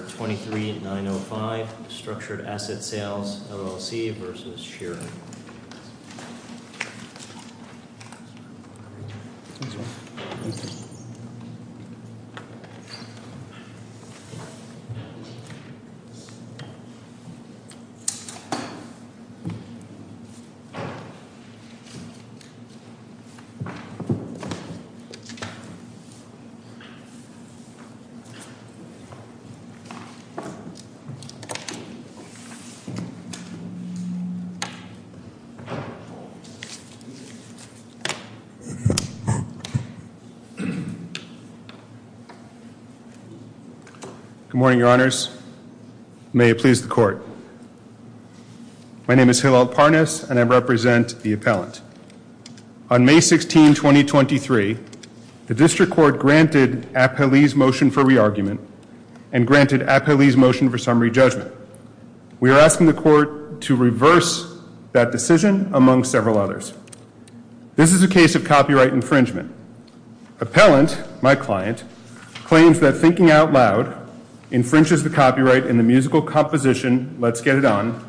23905 Structured Asset Sales, LLC v. Sheeran. Good morning, your honors. May it please the court. My name is Hillel Parness and I represent the appellant. On May 16, 2023, the District Court granted Appelee's motion for re-argument and granted Appelee's motion for re-argument. We are asking the court to reverse that decision among several others. This is a case of copyright infringement. Appellant, my client, claims that thinking out loud infringes the copyright in the musical composition Let's Get It On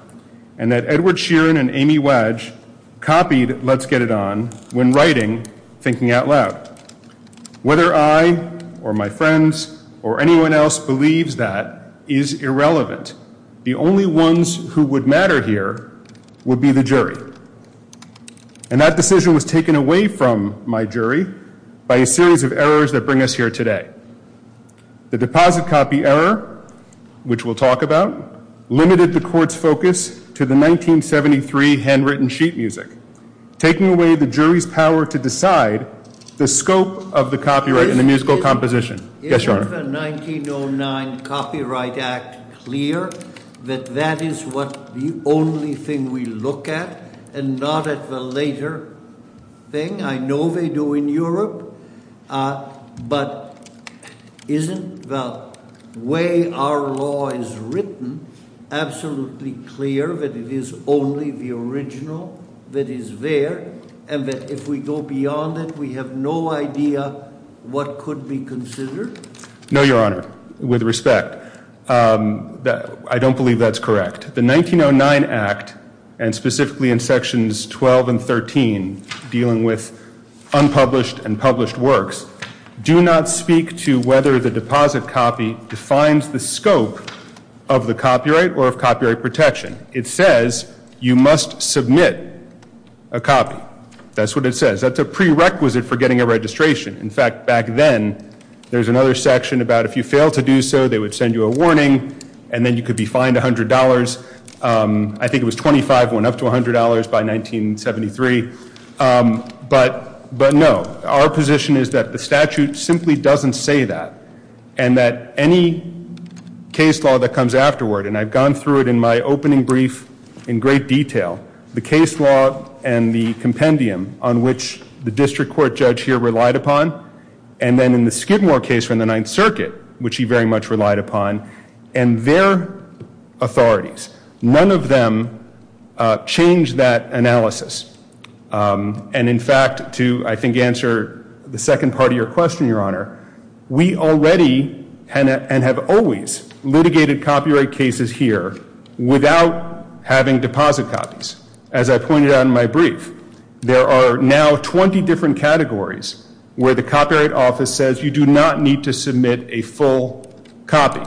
and that Edward Sheeran and Amy Wadge copied Let's Get It On when writing Thinking Out Loud. Whether I or my friends or anyone else believes that is irrelevant. The only ones who would matter here would be the jury. And that decision was taken away from my jury by a series of errors that bring us here today. The deposit copy error, which we'll talk about, limited the court's focus to the 1973 handwritten sheet music, taking away the jury's power to decide the scope of the copyright in the musical composition. Yes, your honor. Is the 1909 Copyright Act clear that that is what the only thing we look at and not at the later thing? I know they do in Europe, but isn't the way our law is written absolutely clear that it is only the original, that it is only the original? And that if we go beyond it, we have no idea what could be considered? No, your honor. With respect, I don't believe that's correct. The 1909 Act, and specifically in sections 12 and 13 dealing with unpublished and published works, do not speak to whether the deposit copy defines the scope of the copyright or of copyright protection. It says you must submit a copy. That's what it says. That's a prerequisite for getting a registration. In fact, back then, there's another section about if you fail to do so, they would send you a warning, and then you could be fined $100. I think it was $25, went up to $100 by 1973. But no, our position is that the statute simply doesn't say that, and that any case law that comes afterward, and I've gone through it in my opening brief in great detail, the case law and the compendium on which the district court judge here relied upon, and then in the Skidmore case from the Ninth Circuit, which he very much relied upon, and their authorities, none of them changed that analysis. And in fact, to, I think, answer the second part of your question, Your Honor, we already, and have always, litigated copyright cases here without having deposit copies. As I pointed out in my brief, there are now 20 different categories where the Copyright Office says you do not need to submit a full copy,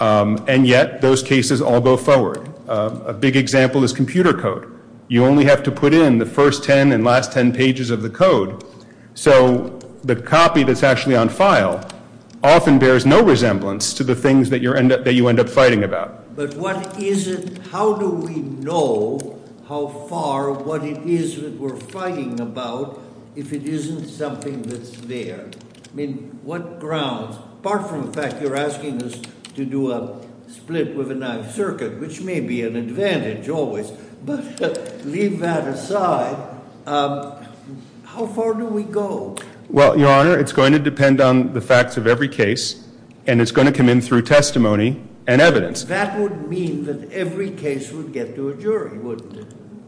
and yet those cases all go forward. A big example is computer code. You only have to put in the first 10 and last 10 pages of the code. So the copy that's actually on file often bears no resemblance to the things that you end up fighting about. But what is it, how do we know how far, what it is that we're fighting about, if it isn't something that's there? I mean, what grounds, apart from the fact you're asking us to do a split with the Ninth Circuit, which may be an advantage always. But leave that aside, how far do we go? Well, Your Honor, it's going to depend on the facts of every case, and it's going to come in through testimony and evidence. That would mean that every case would get to a jury, wouldn't it?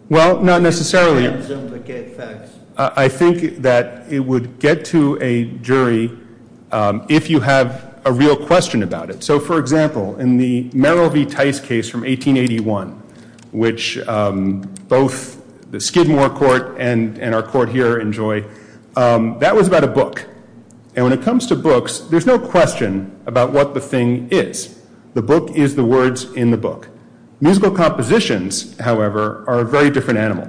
Well, not necessarily. I think that it would get to a jury if you have a real question about it. So, for example, in the Merrill v. Tice case from 1881, which both the Skidmore court and our court here enjoy, that was about a book. And when it comes to books, there's no question about what the thing is. The book is the words in the book. Musical compositions, however, are a very different animal.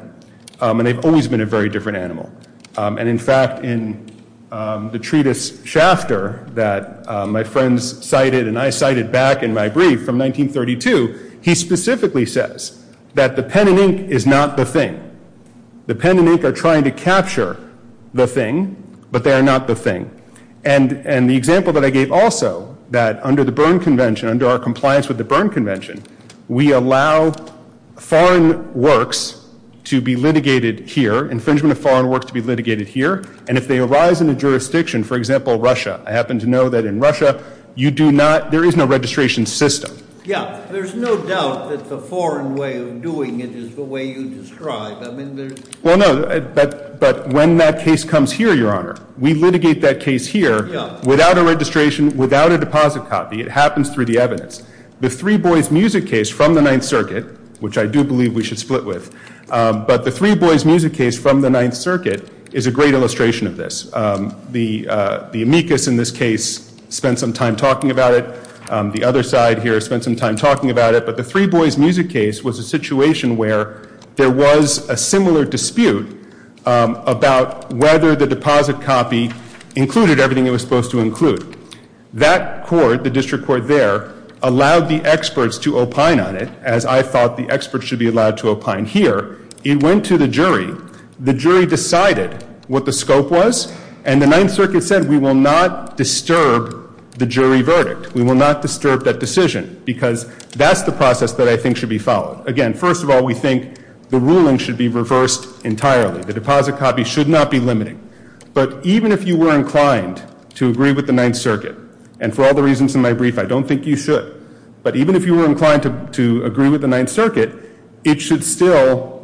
And they've always been a very different animal. And in fact, in the treatise Schafter that my friends cited and I cited back in my brief from 1932, he specifically says that the pen and ink is not the thing. The pen and ink are trying to capture the thing, but they are not the thing. And the example that I gave also, that under the Berne Convention, under our compliance with the Berne Convention, we allow foreign works to be litigated here, infringement of foreign works to be litigated here. And if they arise in a jurisdiction, for example, Russia, I happen to know that in Russia, you do not, there is no registration system. Yeah, there's no doubt that the foreign way of doing it is the way you describe. Well, no, but when that case comes here, Your Honor, we litigate that case here without a registration, without a deposit copy. It happens through the evidence. The Three Boys music case from the Ninth Circuit, which I do believe we should split with, but the Three Boys music case from the Ninth Circuit is a great illustration of this. The amicus in this case spent some time talking about it. The other side here spent some time talking about it. But the Three Boys music case was a situation where there was a similar dispute about whether the deposit copy included everything it was supposed to include. That court, the district court there, allowed the experts to opine on it, as I thought the experts should be allowed to opine. Here, it went to the jury. The jury decided what the scope was. And the Ninth Circuit said we will not disturb the jury verdict. We will not disturb that decision because that's the process that I think should be followed. Again, first of all, we think the ruling should be reversed entirely. The deposit copy should not be limiting. But even if you were inclined to agree with the Ninth Circuit, and for all the reasons in my brief, I don't think you should, but even if you were inclined to agree with the Ninth Circuit, it should still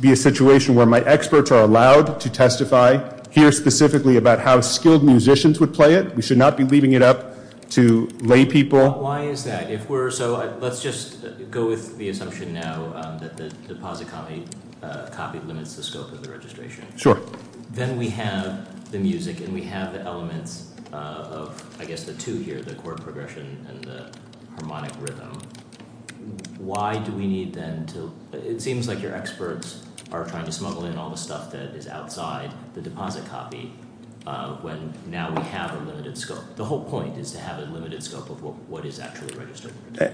be a situation where my experts are allowed to testify, hear specifically about how skilled musicians would play it. We should not be leaving it up to lay people. Why is that? So let's just go with the assumption now that the deposit copy limits the scope of the registration. Sure. Then we have the music and we have the elements of, I guess, the two here, the chord progression and the harmonic rhythm. Why do we need then to, it seems like your experts are trying to smuggle in all the stuff that is outside the deposit copy when now we have a limited scope? The whole point is to have a limited scope of what is actually registered.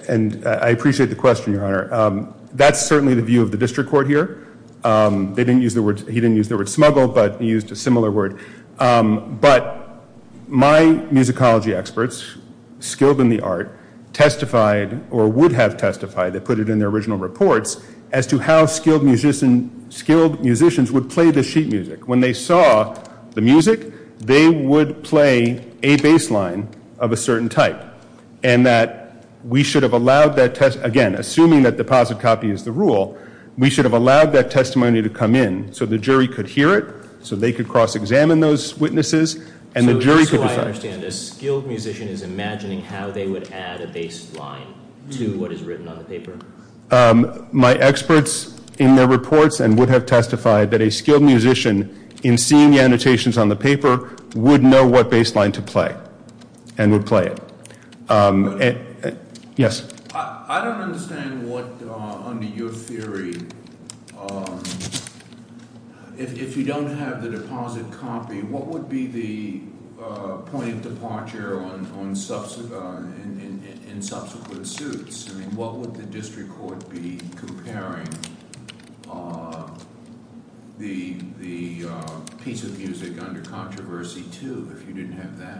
And I appreciate the question, Your Honor. That's certainly the view of the district court here. They didn't use the word, he didn't use the word smuggle, but he used a similar word. But my musicology experts, skilled in the art, testified or would have testified, they put it in their original reports, as to how skilled musicians would play the sheet music. When they saw the music, they would play a bass line of a certain type. And that we should have allowed that, again, assuming that deposit copy is the rule, we should have allowed that testimony to come in so the jury could hear it, so they could cross-examine those witnesses, and the jury could decide. So I understand a skilled musician is imagining how they would add a bass line to what is written on the paper. My experts in their reports and would have testified that a skilled musician, in seeing the annotations on the paper, would know what bass line to play and would play it. Yes? I don't understand what, under your theory, if you don't have the deposit copy, what would be the point of departure in subsequent suits? I mean, what would the district court be comparing the piece of music under controversy to if you didn't have that?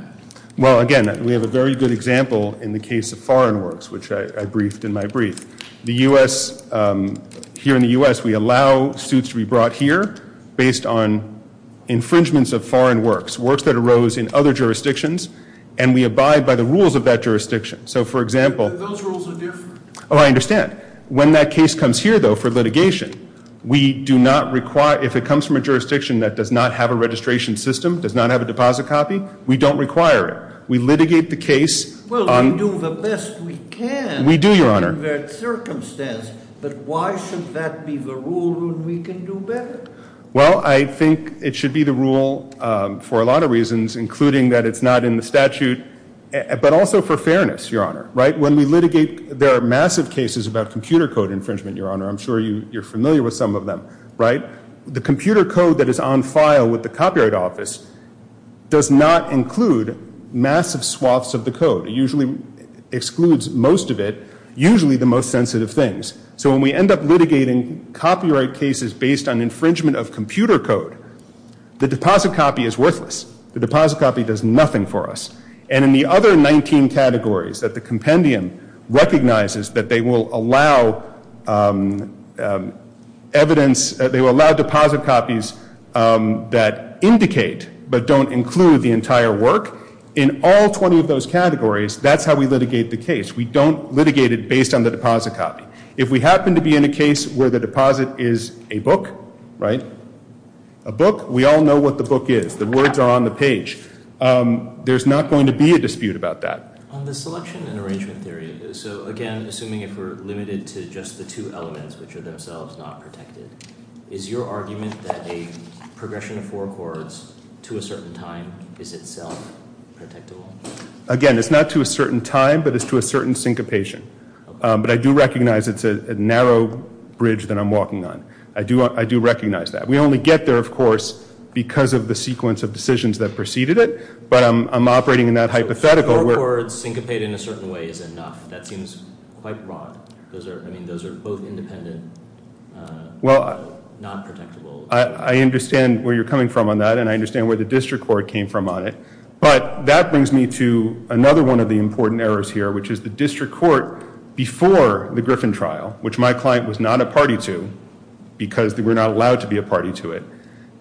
Well, again, we have a very good example in the case of foreign works, which I briefed in my brief. The U.S., here in the U.S., we allow suits to be brought here based on infringements of foreign works, works that arose in other jurisdictions, and we abide by the rules of that jurisdiction. So, for example- But those rules are different. Oh, I understand. When that case comes here, though, for litigation, we do not require, if it comes from a jurisdiction that does not have a registration system, does not have a deposit copy, we don't require it. We litigate the case on- Well, we do the best we can- We do, Your Honor. In that circumstance, but why should that be the rule that we can do better? Well, I think it should be the rule for a lot of reasons, including that it's not in the statute, but also for fairness, Your Honor. When we litigate, there are massive cases about computer code infringement, Your Honor. I'm sure you're familiar with some of them. The computer code that is on file with the Copyright Office does not include massive swaths of the code. It usually excludes most of it, usually the most sensitive things. So when we end up litigating copyright cases based on infringement of computer code, the deposit copy is worthless. The deposit copy does nothing for us. And in the other 19 categories that the compendium recognizes that they will allow evidence- they will allow deposit copies that indicate but don't include the entire work, in all 20 of those categories, that's how we litigate the case. We don't litigate it based on the deposit copy. If we happen to be in a case where the deposit is a book, right, a book, we all know what the book is. The words are on the page. There's not going to be a dispute about that. On the selection and arrangement theory, so again, assuming if we're limited to just the two elements which are themselves not protected, is your argument that a progression of four chords to a certain time is itself protectable? Again, it's not to a certain time, but it's to a certain syncopation. But I do recognize it's a narrow bridge that I'm walking on. I do recognize that. We only get there, of course, because of the sequence of decisions that preceded it. But I'm operating in that hypothetical. Four chords syncopated in a certain way is enough. That seems quite wrong. I mean, those are both independent, not protectable. I understand where you're coming from on that, and I understand where the district court came from on it. But that brings me to another one of the important errors here, which is the district court before the Griffin trial, which my client was not a party to because we're not allowed to be a party to it.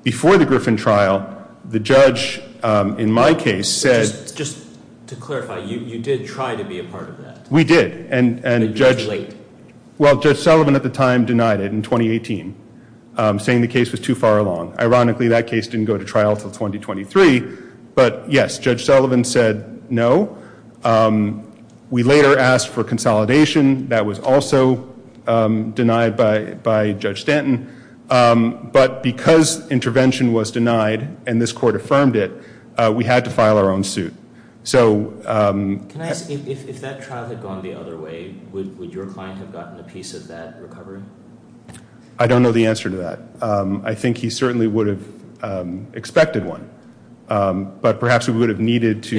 Before the Griffin trial, the judge in my case said— Just to clarify, you did try to be a part of that? We did, and Judge— But you were late. Well, Judge Sullivan at the time denied it in 2018, saying the case was too far along. Ironically, that case didn't go to trial until 2023. But, yes, Judge Sullivan said no. We later asked for consolidation. That was also denied by Judge Stanton. But because intervention was denied and this court affirmed it, we had to file our own suit. Can I ask, if that trial had gone the other way, would your client have gotten a piece of that recovery? I don't know the answer to that. I think he certainly would have expected one. But perhaps we would have needed to—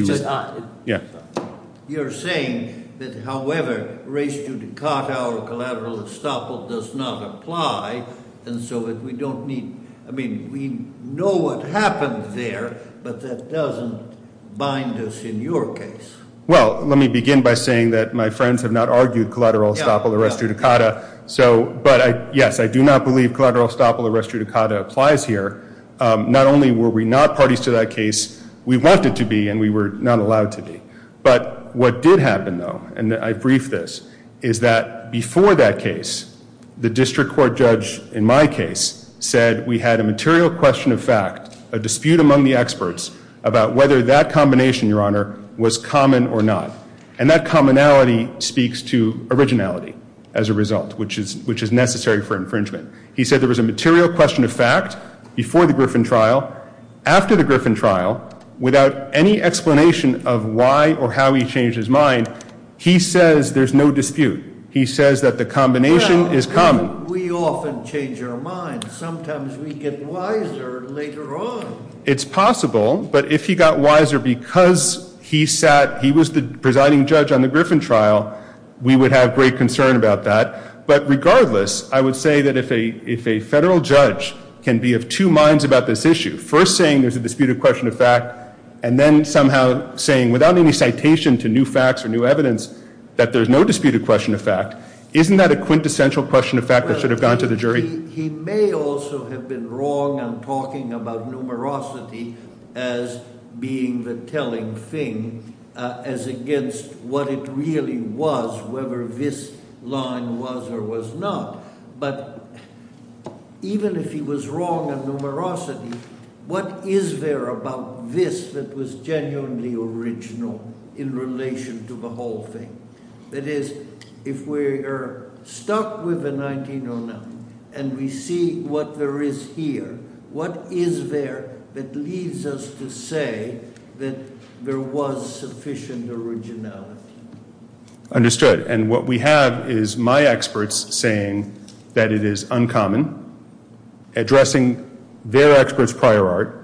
You're saying that, however, res judicata or collateral estoppel does not apply, and so that we don't need— I mean, we know what happened there, but that doesn't bind us in your case. Well, let me begin by saying that my friends have not argued collateral estoppel or res judicata. But, yes, I do not believe collateral estoppel or res judicata applies here. Not only were we not parties to that case, we wanted to be and we were not allowed to be. But what did happen, though, and I brief this, is that before that case, the district court judge in my case said we had a material question of fact, a dispute among the experts about whether that combination, Your Honor, was common or not. And that commonality speaks to originality as a result, which is necessary for infringement. He said there was a material question of fact before the Griffin trial. After the Griffin trial, without any explanation of why or how he changed his mind, he says there's no dispute. He says that the combination is common. Well, we often change our minds. Sometimes we get wiser later on. It's possible, but if he got wiser because he was the presiding judge on the Griffin trial, we would have great concern about that. But regardless, I would say that if a federal judge can be of two minds about this issue, first saying there's a disputed question of fact and then somehow saying, without any citation to new facts or new evidence, that there's no disputed question of fact, isn't that a quintessential question of fact that should have gone to the jury? He may also have been wrong on talking about numerosity as being the telling thing as against what it really was, whether this line was or was not. But even if he was wrong on numerosity, what is there about this that was genuinely original in relation to the whole thing? That is, if we are stuck with the 1909 and we see what there is here, what is there that leads us to say that there was sufficient originality? Understood. And what we have is my experts saying that it is uncommon, addressing their experts' prior art,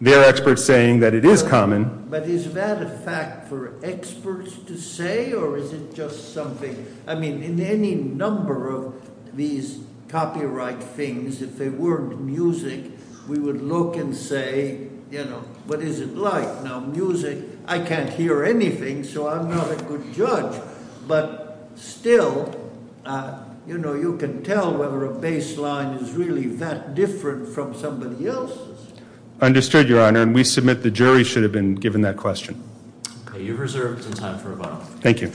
their experts saying that it is common. But is that a fact for experts to say or is it just something? I mean, in any number of these copyright things, if they weren't music, we would look and say, you know, what is it like? Now, music, I can't hear anything, so I'm not a good judge. But still, you know, you can tell whether a baseline is really that different from somebody else's. Understood, Your Honor. And we submit the jury should have been given that question. You've reserved some time for rebuttal. Thank you.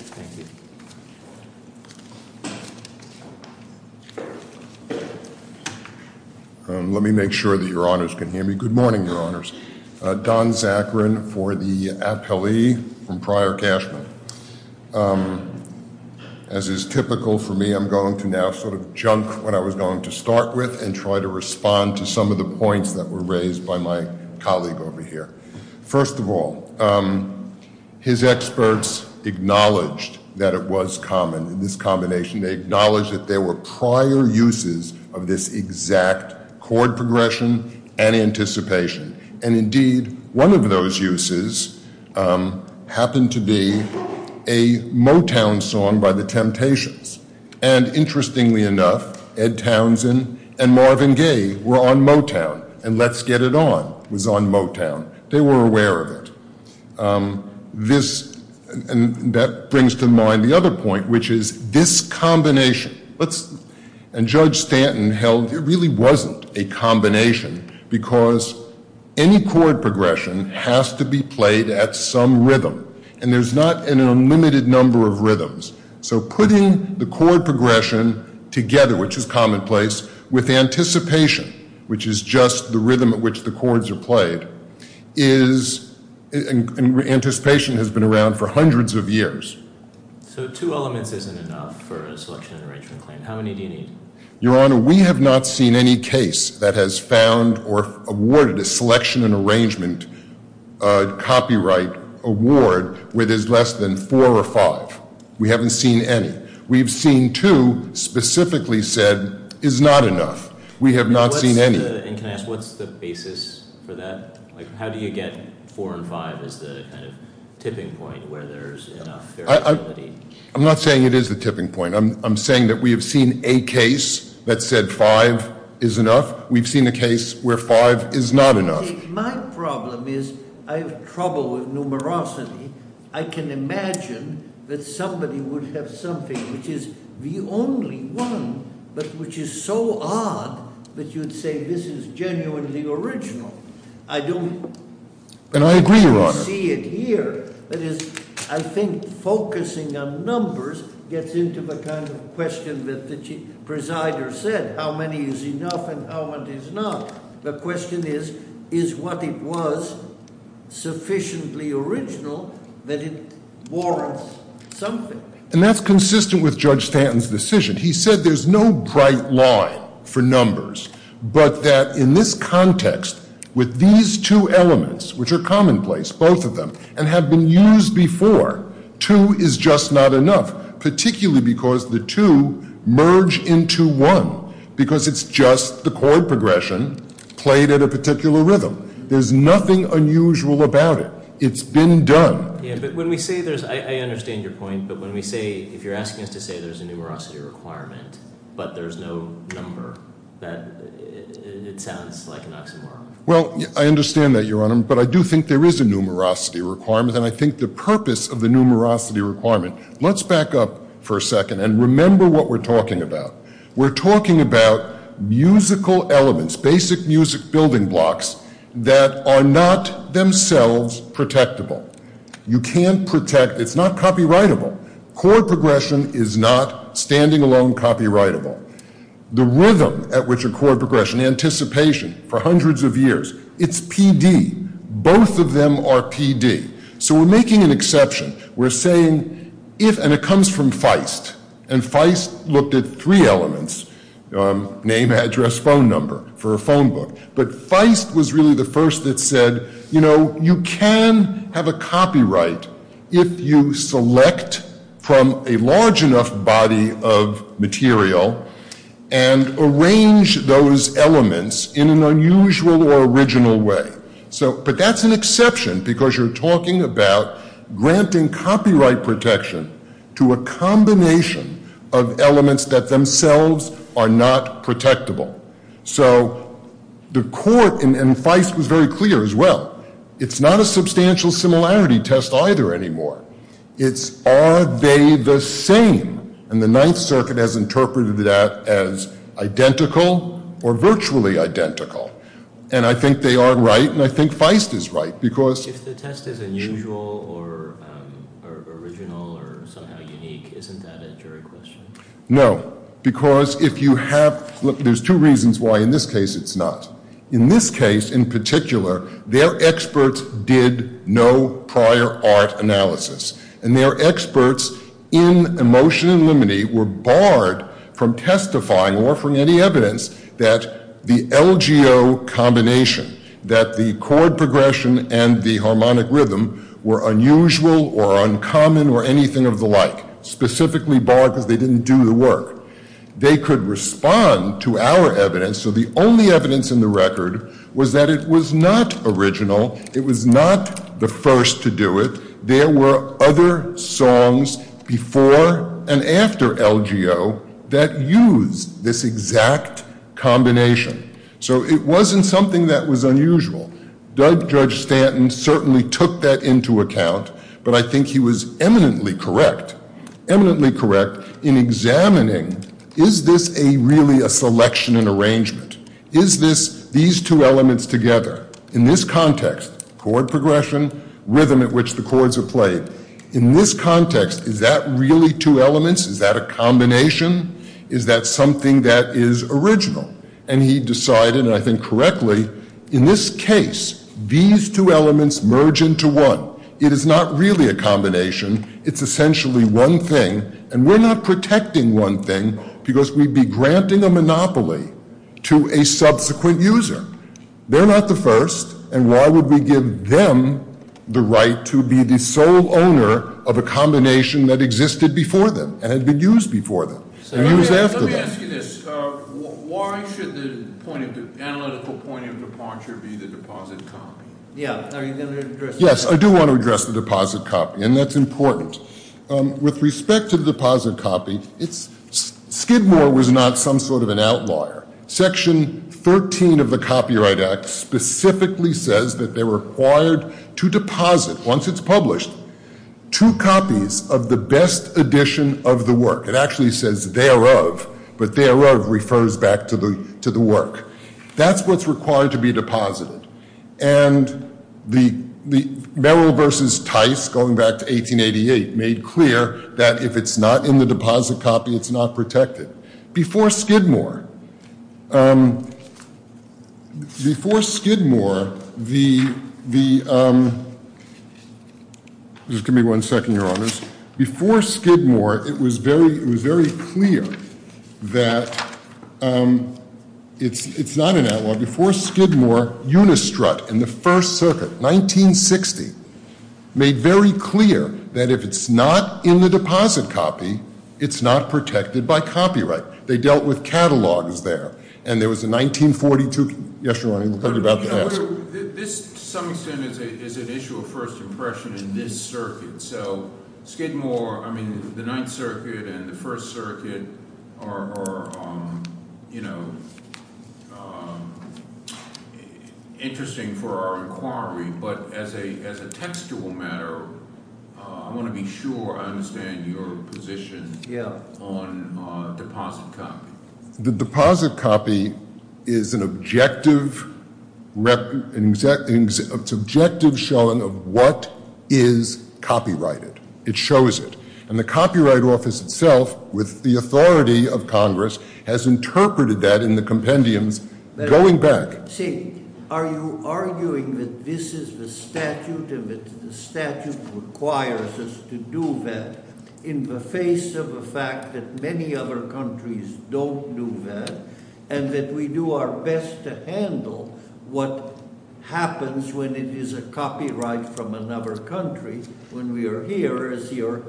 Let me make sure that Your Honors can hear me. Good morning, Your Honors. Don Zachrin for the appellee from Prior Cashman. As is typical for me, I'm going to now sort of junk what I was going to start with and try to respond to some of the points that were raised by my colleague over here. First of all, his experts acknowledged that it was common in this combination. They acknowledged that there were prior uses of this exact chord progression and anticipation. And indeed, one of those uses happened to be a Motown song by the Temptations. And interestingly enough, Ed Townsend and Marvin Gaye were on Motown. And Let's Get It On was on Motown. They were aware of it. And that brings to mind the other point, which is this combination. And Judge Stanton held it really wasn't a combination because any chord progression has to be played at some rhythm. And there's not an unlimited number of rhythms. So putting the chord progression together, which is commonplace, with anticipation, which is just the rhythm at which the chords are played, is anticipation has been around for hundreds of years. So two elements isn't enough for a selection and arrangement claim. How many do you need? Your Honor, we have not seen any case that has found or awarded a selection and arrangement copyright award where there's less than four or five. We haven't seen any. We've seen two specifically said is not enough. We have not seen any. And can I ask, what's the basis for that? How do you get four and five as the tipping point where there's enough? I'm not saying it is the tipping point. I'm saying that we have seen a case that said five is enough. We've seen a case where five is not enough. My problem is I have trouble with numerosity. I can imagine that somebody would have something which is the only one, but which is so odd that you'd say this is genuinely original. I don't see it here. And I agree, Your Honor. That is, I think focusing on numbers gets into the kind of question that the presider said, how many is enough and how many is not. The question is, is what it was sufficiently original that it warrants something? And that's consistent with Judge Stanton's decision. He said there's no bright line for numbers, but that in this context with these two elements, which are commonplace, both of them, and have been used before, two is just not enough, particularly because the two merge into one because it's just the chord progression played at a particular rhythm. There's nothing unusual about it. It's been done. Yeah, but when we say there's, I understand your point, but when we say, if you're asking us to say there's a numerosity requirement, but there's no number, that it sounds like an oxymoron. Well, I understand that, Your Honor, but I do think there is a numerosity requirement, and I think the purpose of the numerosity requirement, let's back up for a second and remember what we're talking about. We're talking about musical elements, basic music building blocks that are not themselves protectable. You can't protect, it's not copyrightable. Chord progression is not standing alone copyrightable. The rhythm at which a chord progression, anticipation for hundreds of years, it's PD. Both of them are PD. So we're making an exception. We're saying if, and it comes from Feist, and Feist looked at three elements, name, address, phone number for a phone book, but Feist was really the first that said, you know, you can have a copyright if you select from a large enough body of material and arrange those elements in an unusual or original way. But that's an exception because you're talking about granting copyright protection to a combination of elements that themselves are not protectable. So the court, and Feist was very clear as well, it's not a substantial similarity test either anymore. It's are they the same? And the Ninth Circuit has interpreted that as identical or virtually identical. And I think they are right, and I think Feist is right. If the test is unusual or original or somehow unique, isn't that a jury question? No, because if you have, look, there's two reasons why in this case it's not. In this case in particular, their experts did no prior art analysis. And their experts in Emotion and Limity were barred from testifying or from any evidence that the LGO combination, that the chord progression and the harmonic rhythm were unusual or uncommon or anything of the like, specifically barred because they didn't do the work. They could respond to our evidence. So the only evidence in the record was that it was not original. It was not the first to do it. There were other songs before and after LGO that used this exact combination. So it wasn't something that was unusual. Judge Stanton certainly took that into account, but I think he was eminently correct, eminently correct in examining is this really a selection and arrangement? Is this, these two elements together, in this context, chord progression, rhythm at which the chords are played, in this context, is that really two elements? Is that a combination? Is that something that is original? And he decided, and I think correctly, in this case, these two elements merge into one. It is not really a combination. It's essentially one thing. And we're not protecting one thing because we'd be granting a monopoly to a subsequent user. They're not the first, and why would we give them the right to be the sole owner of a combination that existed before them and had been used before them and used after them? Let me ask you this. Why should the analytical point of departure be the deposit copy? Yeah, are you going to address that? Yes, I do want to address the deposit copy, and that's important. With respect to the deposit copy, Skidmore was not some sort of an outlaw. Section 13 of the Copyright Act specifically says that they're required to deposit, once it's published, two copies of the best edition of the work. It actually says thereof, but thereof refers back to the work. That's what's required to be deposited. And Merrill v. Tice, going back to 1888, made clear that if it's not in the deposit copy, it's not protected. Before Skidmore, it was very clear that it's not an outlaw. Before Skidmore, Unistrut in the First Circuit, 1960, made very clear that if it's not in the deposit copy, it's not protected by copyright. They dealt with catalogs there. And there was a 1942 – yes, Ronnie, we'll tell you about that. This, to some extent, is an issue of first impression in this circuit. So Skidmore – I mean, the Ninth Circuit and the First Circuit are interesting for our inquiry. But as a textual matter, I want to be sure I understand your position on deposit copy. The deposit copy is an objective showing of what is copyrighted. It shows it. And the Copyright Office itself, with the authority of Congress, has interpreted that in the compendiums going back. See, are you arguing that this is the statute, and that the statute requires us to do that, in the face of the fact that many other countries don't do that, and that we do our best to handle what happens when it is a copyright from another country, when we are here, as your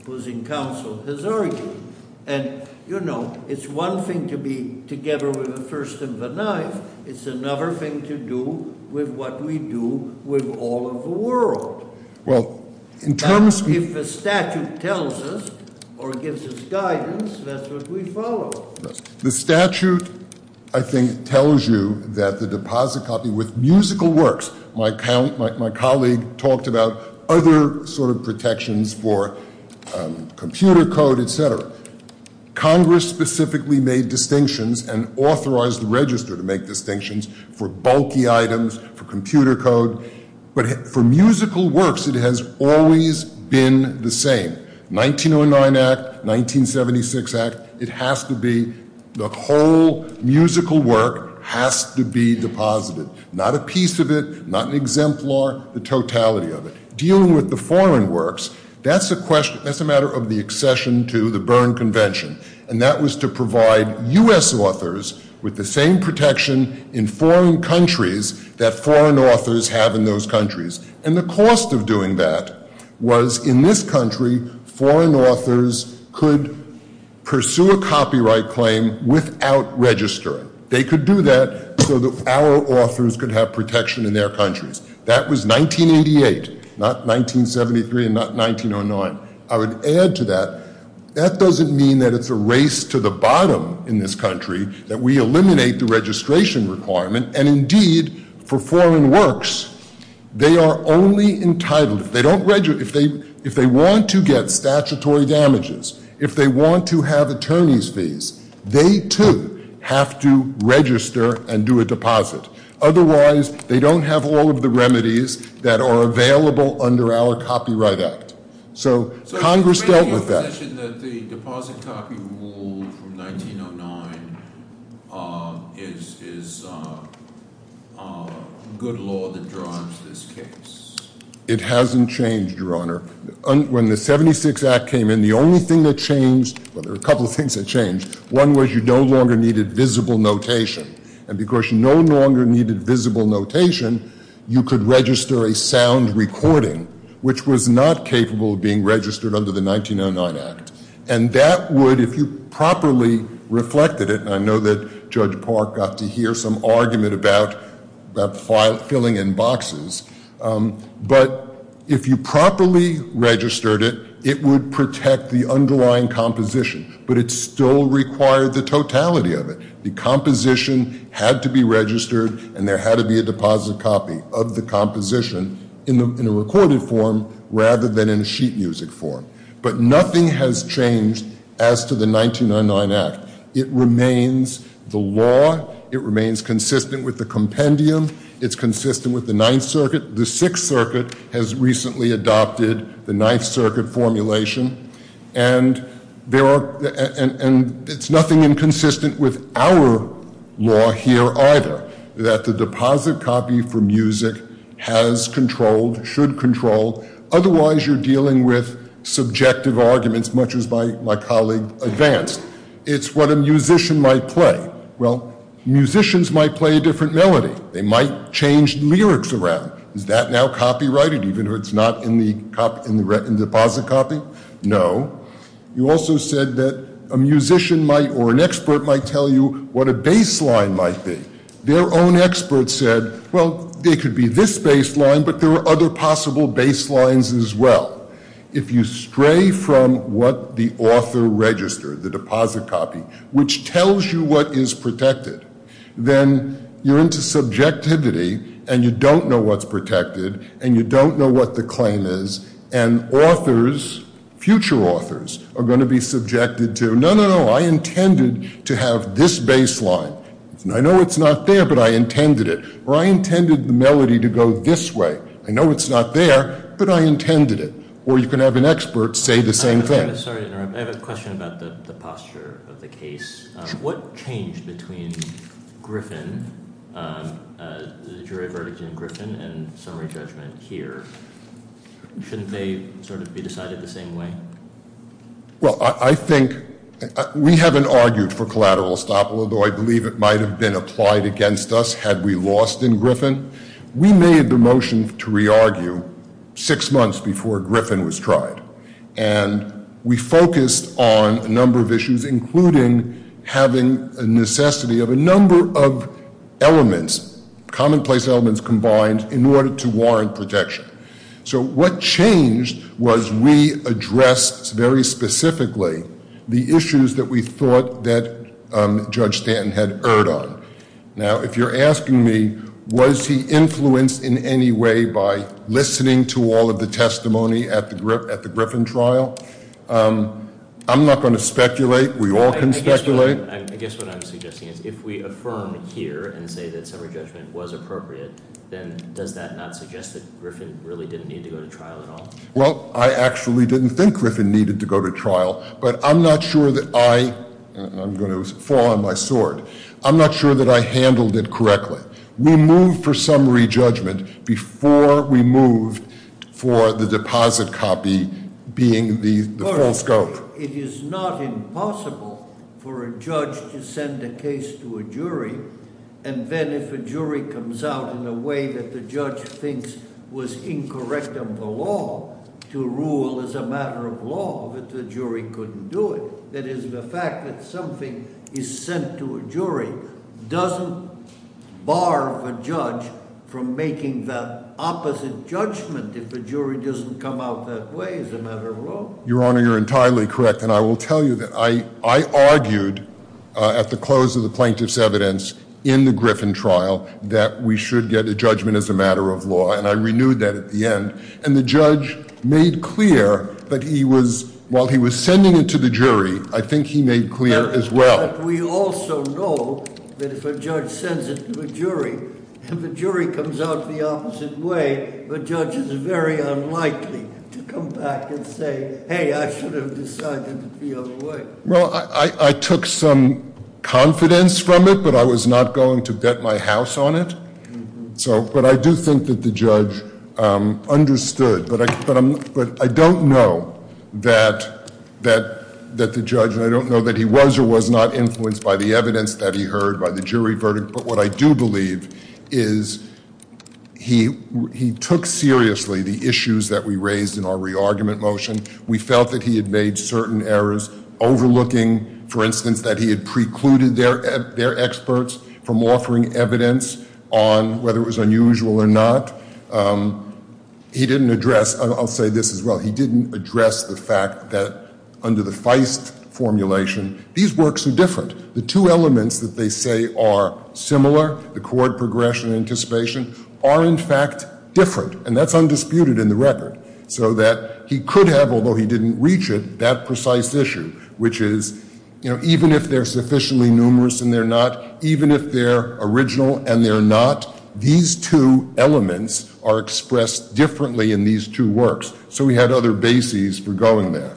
opposing counsel has argued. And, you know, it's one thing to be together with the first and the ninth. It's another thing to do with what we do with all of the world. If the statute tells us or gives us guidance, that's what we follow. The statute, I think, tells you that the deposit copy with musical works – my colleague talked about other sort of protections for computer code, etc. Congress specifically made distinctions and authorized the register to make distinctions for bulky items, for computer code. But for musical works, it has always been the same. 1909 Act, 1976 Act, it has to be – the whole musical work has to be deposited. Not a piece of it, not an exemplar, the totality of it. Dealing with the foreign works, that's a matter of the accession to the Berne Convention. And that was to provide U.S. authors with the same protection in foreign countries that foreign authors have in those countries. And the cost of doing that was, in this country, foreign authors could pursue a copyright claim without registering. They could do that so that our authors could have protection in their countries. That was 1988, not 1973 and not 1909. I would add to that, that doesn't mean that it's a race to the bottom in this country, that we eliminate the registration requirement. And indeed, for foreign works, they are only entitled – if they want to get statutory damages, if they want to have attorney's fees, they, too, have to register and do a deposit. Otherwise, they don't have all of the remedies that are available under our Copyright Act. So Congress dealt with that. So is it in your position that the deposit copy rule from 1909 is good law that drives this case? It hasn't changed, Your Honor. When the 76 Act came in, the only thing that changed – well, there were a couple of things that changed. One was you no longer needed visible notation. And because you no longer needed visible notation, you could register a sound recording, which was not capable of being registered under the 1909 Act. And that would, if you properly reflected it – and I know that Judge Park got to hear some argument about filling in boxes – but if you properly registered it, it would protect the underlying composition, but it still required the totality of it. The composition had to be registered, and there had to be a deposit copy of the composition in a recorded form rather than in a sheet music form. But nothing has changed as to the 1999 Act. It remains the law. It remains consistent with the compendium. It's consistent with the Ninth Circuit. The Sixth Circuit has recently adopted the Ninth Circuit formulation. And it's nothing inconsistent with our law here either, that the deposit copy for music has control, should control. Otherwise, you're dealing with subjective arguments, much as my colleague advanced. It's what a musician might play. Well, musicians might play a different melody. They might change lyrics around. Is that now copyrighted, even if it's not in the deposit copy? No. You also said that a musician might, or an expert might tell you what a baseline might be. Their own expert said, well, it could be this baseline, but there are other possible baselines as well. If you stray from what the author registered, the deposit copy, which tells you what is protected, then you're into subjectivity, and you don't know what's protected, and you don't know what the claim is. And authors, future authors, are going to be subjected to, no, no, no, I intended to have this baseline. I know it's not there, but I intended it. Or I intended the melody to go this way. I know it's not there, but I intended it. Or you can have an expert say the same thing. I'm sorry to interrupt. I have a question about the posture of the case. What changed between Griffin, the jury verdict in Griffin, and summary judgment here? Shouldn't they sort of be decided the same way? Well, I think we haven't argued for collateral estoppel, although I believe it might have been applied against us had we lost in Griffin. We made the motion to re-argue six months before Griffin was tried, and we focused on a number of issues, including having a necessity of a number of elements, commonplace elements combined, in order to warrant protection. So what changed was we addressed very specifically the issues that we thought that Judge Stanton had erred on. Now, if you're asking me, was he influenced in any way by listening to all of the testimony at the Griffin trial, I'm not going to speculate. We all can speculate. I guess what I'm suggesting is if we affirm here and say that summary judgment was appropriate, then does that not suggest that Griffin really didn't need to go to trial at all? Well, I actually didn't think Griffin needed to go to trial, but I'm not sure that I— I'm going to fall on my sword. I'm not sure that I handled it correctly. We moved for summary judgment before we moved for the deposit copy being the full scope. It is not impossible for a judge to send a case to a jury, and then if a jury comes out in a way that the judge thinks was incorrect of the law to rule as a matter of law, that the jury couldn't do it. That is, the fact that something is sent to a jury doesn't bar a judge from making the opposite judgment if a jury doesn't come out that way as a matter of law. Your Honor, you're entirely correct, and I will tell you that I argued at the close of the plaintiff's evidence in the Griffin trial that we should get a judgment as a matter of law, and I renewed that at the end. And the judge made clear that he was—while he was sending it to the jury, I think he made clear as well. But we also know that if a judge sends it to a jury and the jury comes out the opposite way, the judge is very unlikely to come back and say, hey, I should have decided it the other way. Well, I took some confidence from it, but I was not going to bet my house on it. But I do think that the judge understood. But I don't know that the judge—and I don't know that he was or was not influenced by the evidence that he heard, by the jury verdict, but what I do believe is he took seriously the issues that we raised in our re-argument motion. We felt that he had made certain errors overlooking, for instance, that he had precluded their experts from offering evidence on whether it was unusual or not. He didn't address—I'll say this as well—he didn't address the fact that under the Feist formulation, these works are different. The two elements that they say are similar, the court progression and anticipation, are in fact different, and that's undisputed in the record, so that he could have, although he didn't reach it, that precise issue, which is even if they're sufficiently numerous and they're not, even if they're original and they're not, these two elements are expressed differently in these two works. So we had other bases for going there.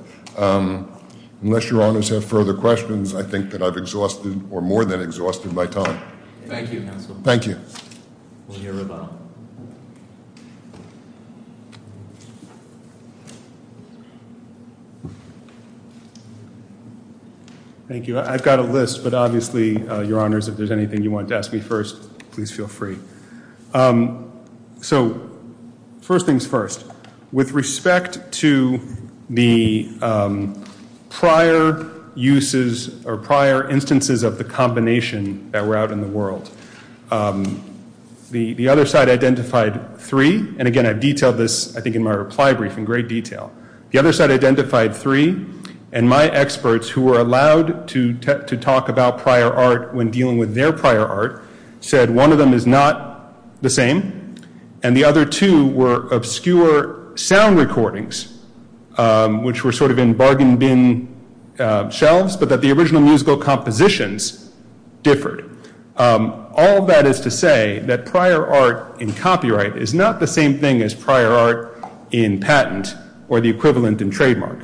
Unless your honors have further questions, I think that I've exhausted or more than exhausted my time. Thank you, counsel. Thank you. We'll hear about it. Thank you. I've got a list, but obviously, your honors, if there's anything you want to ask me first, please feel free. So first things first, with respect to the prior uses or prior instances of the combination that were out in the world, the other side identified three, and again, I've detailed this, I think, in my reply brief in great detail. The other side identified three, and my experts, who were allowed to talk about prior art when dealing with their prior art, said one of them is not the same, and the other two were obscure sound recordings, which were sort of in bargain bin shelves, but that the original musical compositions differed. All that is to say that prior art in copyright is not the same thing as prior art in patent or the equivalent in trademark,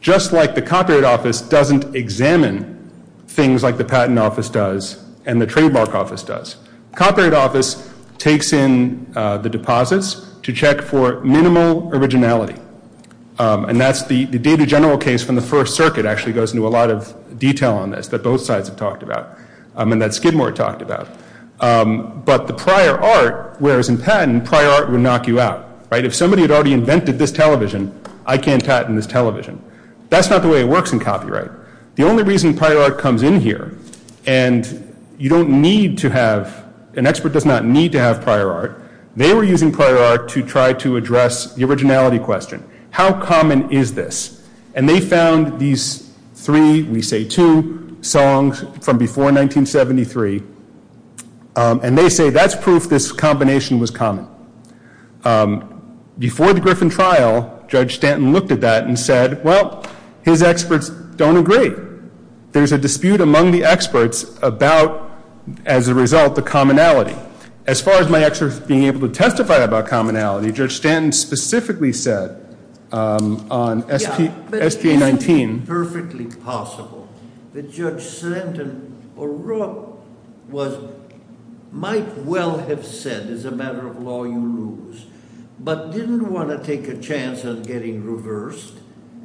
just like the Copyright Office doesn't examine things like the Patent Office does and the Trademark Office does. Copyright Office takes in the deposits to check for minimal originality, and that's the data general case from the First Circuit actually goes into a lot of detail on this that both sides have talked about, and that Skidmore talked about, but the prior art, whereas in patent, prior art would knock you out, right? If somebody had already invented this television, I can't patent this television. That's not the way it works in copyright. The only reason prior art comes in here, and you don't need to have, an expert does not need to have prior art. They were using prior art to try to address the originality question. How common is this? And they found these three, we say two, songs from before 1973, and they say that's proof this combination was common. Before the Griffin trial, Judge Stanton looked at that and said, well, his experts don't agree. There's a dispute among the experts about, as a result, the commonality. As far as my experts being able to testify about commonality, Judge Stanton specifically said on SGA-19- Yeah, but it's perfectly possible that Judge Stanton or Rupp might well have said, as a matter of law, you lose, but didn't want to take a chance on getting reversed,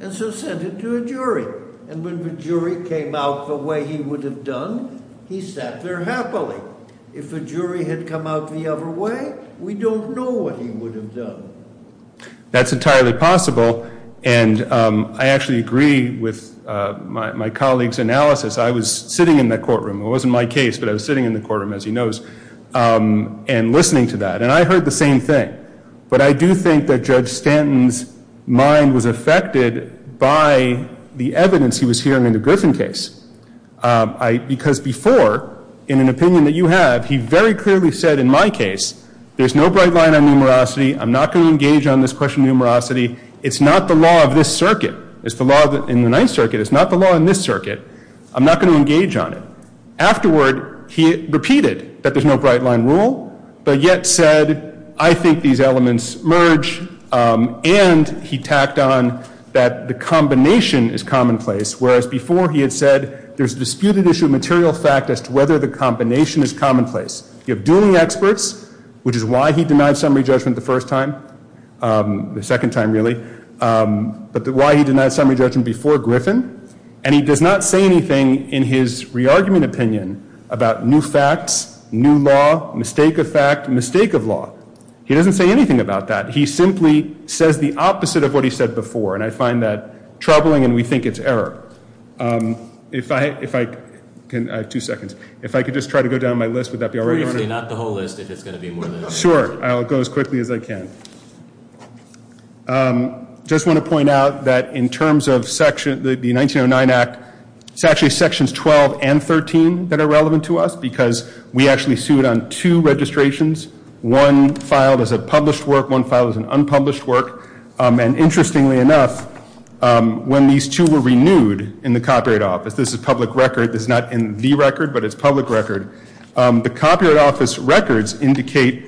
and so sent it to a jury. And when the jury came out the way he would have done, he sat there happily. If a jury had come out the other way, we don't know what he would have done. That's entirely possible, and I actually agree with my colleague's analysis. I was sitting in that courtroom. It wasn't my case, but I was sitting in the courtroom, as he knows, and listening to that, and I heard the same thing. But I do think that Judge Stanton's mind was affected by the evidence he was hearing in the Griffin case. Because before, in an opinion that you have, he very clearly said, in my case, there's no bright line on numerosity. I'm not going to engage on this question of numerosity. It's not the law of this circuit. It's the law in the Ninth Circuit. It's not the law in this circuit. I'm not going to engage on it. Afterward, he repeated that there's no bright line rule, but yet said, I think these elements merge, and he tacked on that the combination is commonplace, whereas before he had said, there's a disputed issue of material fact as to whether the combination is commonplace. You have Dooling experts, which is why he denied summary judgment the first time, the second time, really, but why he denied summary judgment before Griffin, and he does not say anything in his re-argument opinion about new facts, new law, mistake of fact, mistake of law. He doesn't say anything about that. He simply says the opposite of what he said before, and I find that troubling, and we think it's error. If I can ‑‑ I have two seconds. If I could just try to go down my list, would that be all right? Not the whole list, if it's going to be more than that. Sure. I'll go as quickly as I can. I just want to point out that in terms of the 1909 Act, it's actually Sections 12 and 13 that are relevant to us because we actually sued on two registrations. One filed as a published work. One filed as an unpublished work, and interestingly enough, when these two were renewed in the Copyright Office, this is public record. This is not in the record, but it's public record. The Copyright Office records indicate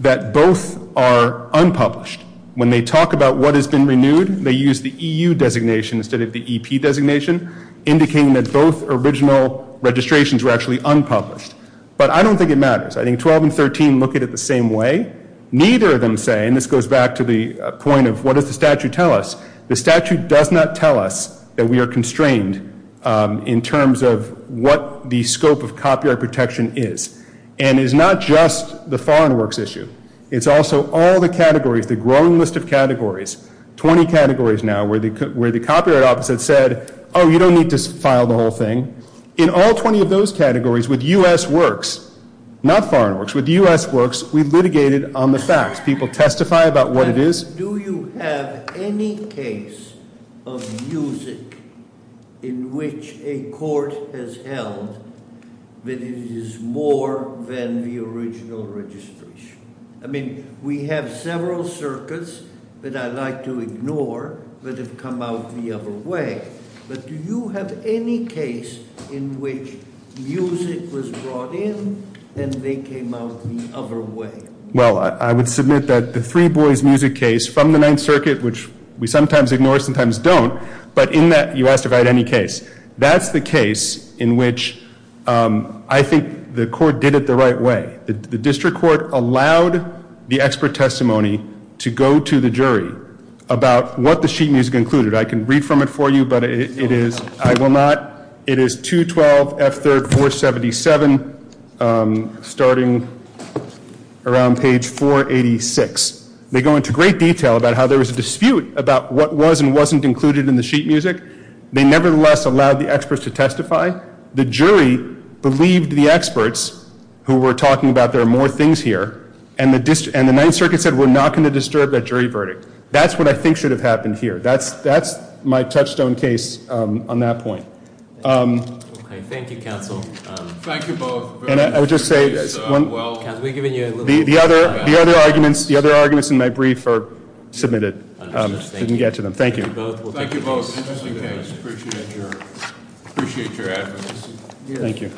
that both are unpublished. When they talk about what has been renewed, they use the EU designation instead of the EP designation, indicating that both original registrations were actually unpublished. But I don't think it matters. I think 12 and 13 look at it the same way. Neither of them say, and this goes back to the point of what does the statute tell us, the statute does not tell us that we are constrained in terms of what the scope of copyright protection is. And it's not just the Foreign Works issue. It's also all the categories, the growing list of categories, 20 categories now, where the Copyright Office had said, oh, you don't need to file the whole thing. In all 20 of those categories, with U.S. Works, not Foreign Works, with U.S. Works, we litigated on the facts. People testify about what it is. Do you have any case of music in which a court has held that it is more than the original registration? I mean, we have several circuits that I like to ignore that have come out the other way. But do you have any case in which music was brought in and they came out the other way? Well, I would submit that the Three Boys music case from the Ninth Circuit, which we sometimes ignore, sometimes don't, but in that you asked if I had any case. That's the case in which I think the court did it the right way. The district court allowed the expert testimony to go to the jury about what the sheet music included. I can read from it for you, but I will not. It is 212 F. 3rd 477, starting around page 486. They go into great detail about how there was a dispute about what was and wasn't included in the sheet music. They nevertheless allowed the experts to testify. The jury believed the experts who were talking about there are more things here, and the Ninth Circuit said we're not going to disturb that jury verdict. That's what I think should have happened here. That's my touchstone case on that point. Thank you, counsel. Thank you both. And I would just say the other arguments in my brief are submitted. I didn't get to them. Thank you. Thank you both. Appreciate your advocacy. Thank you.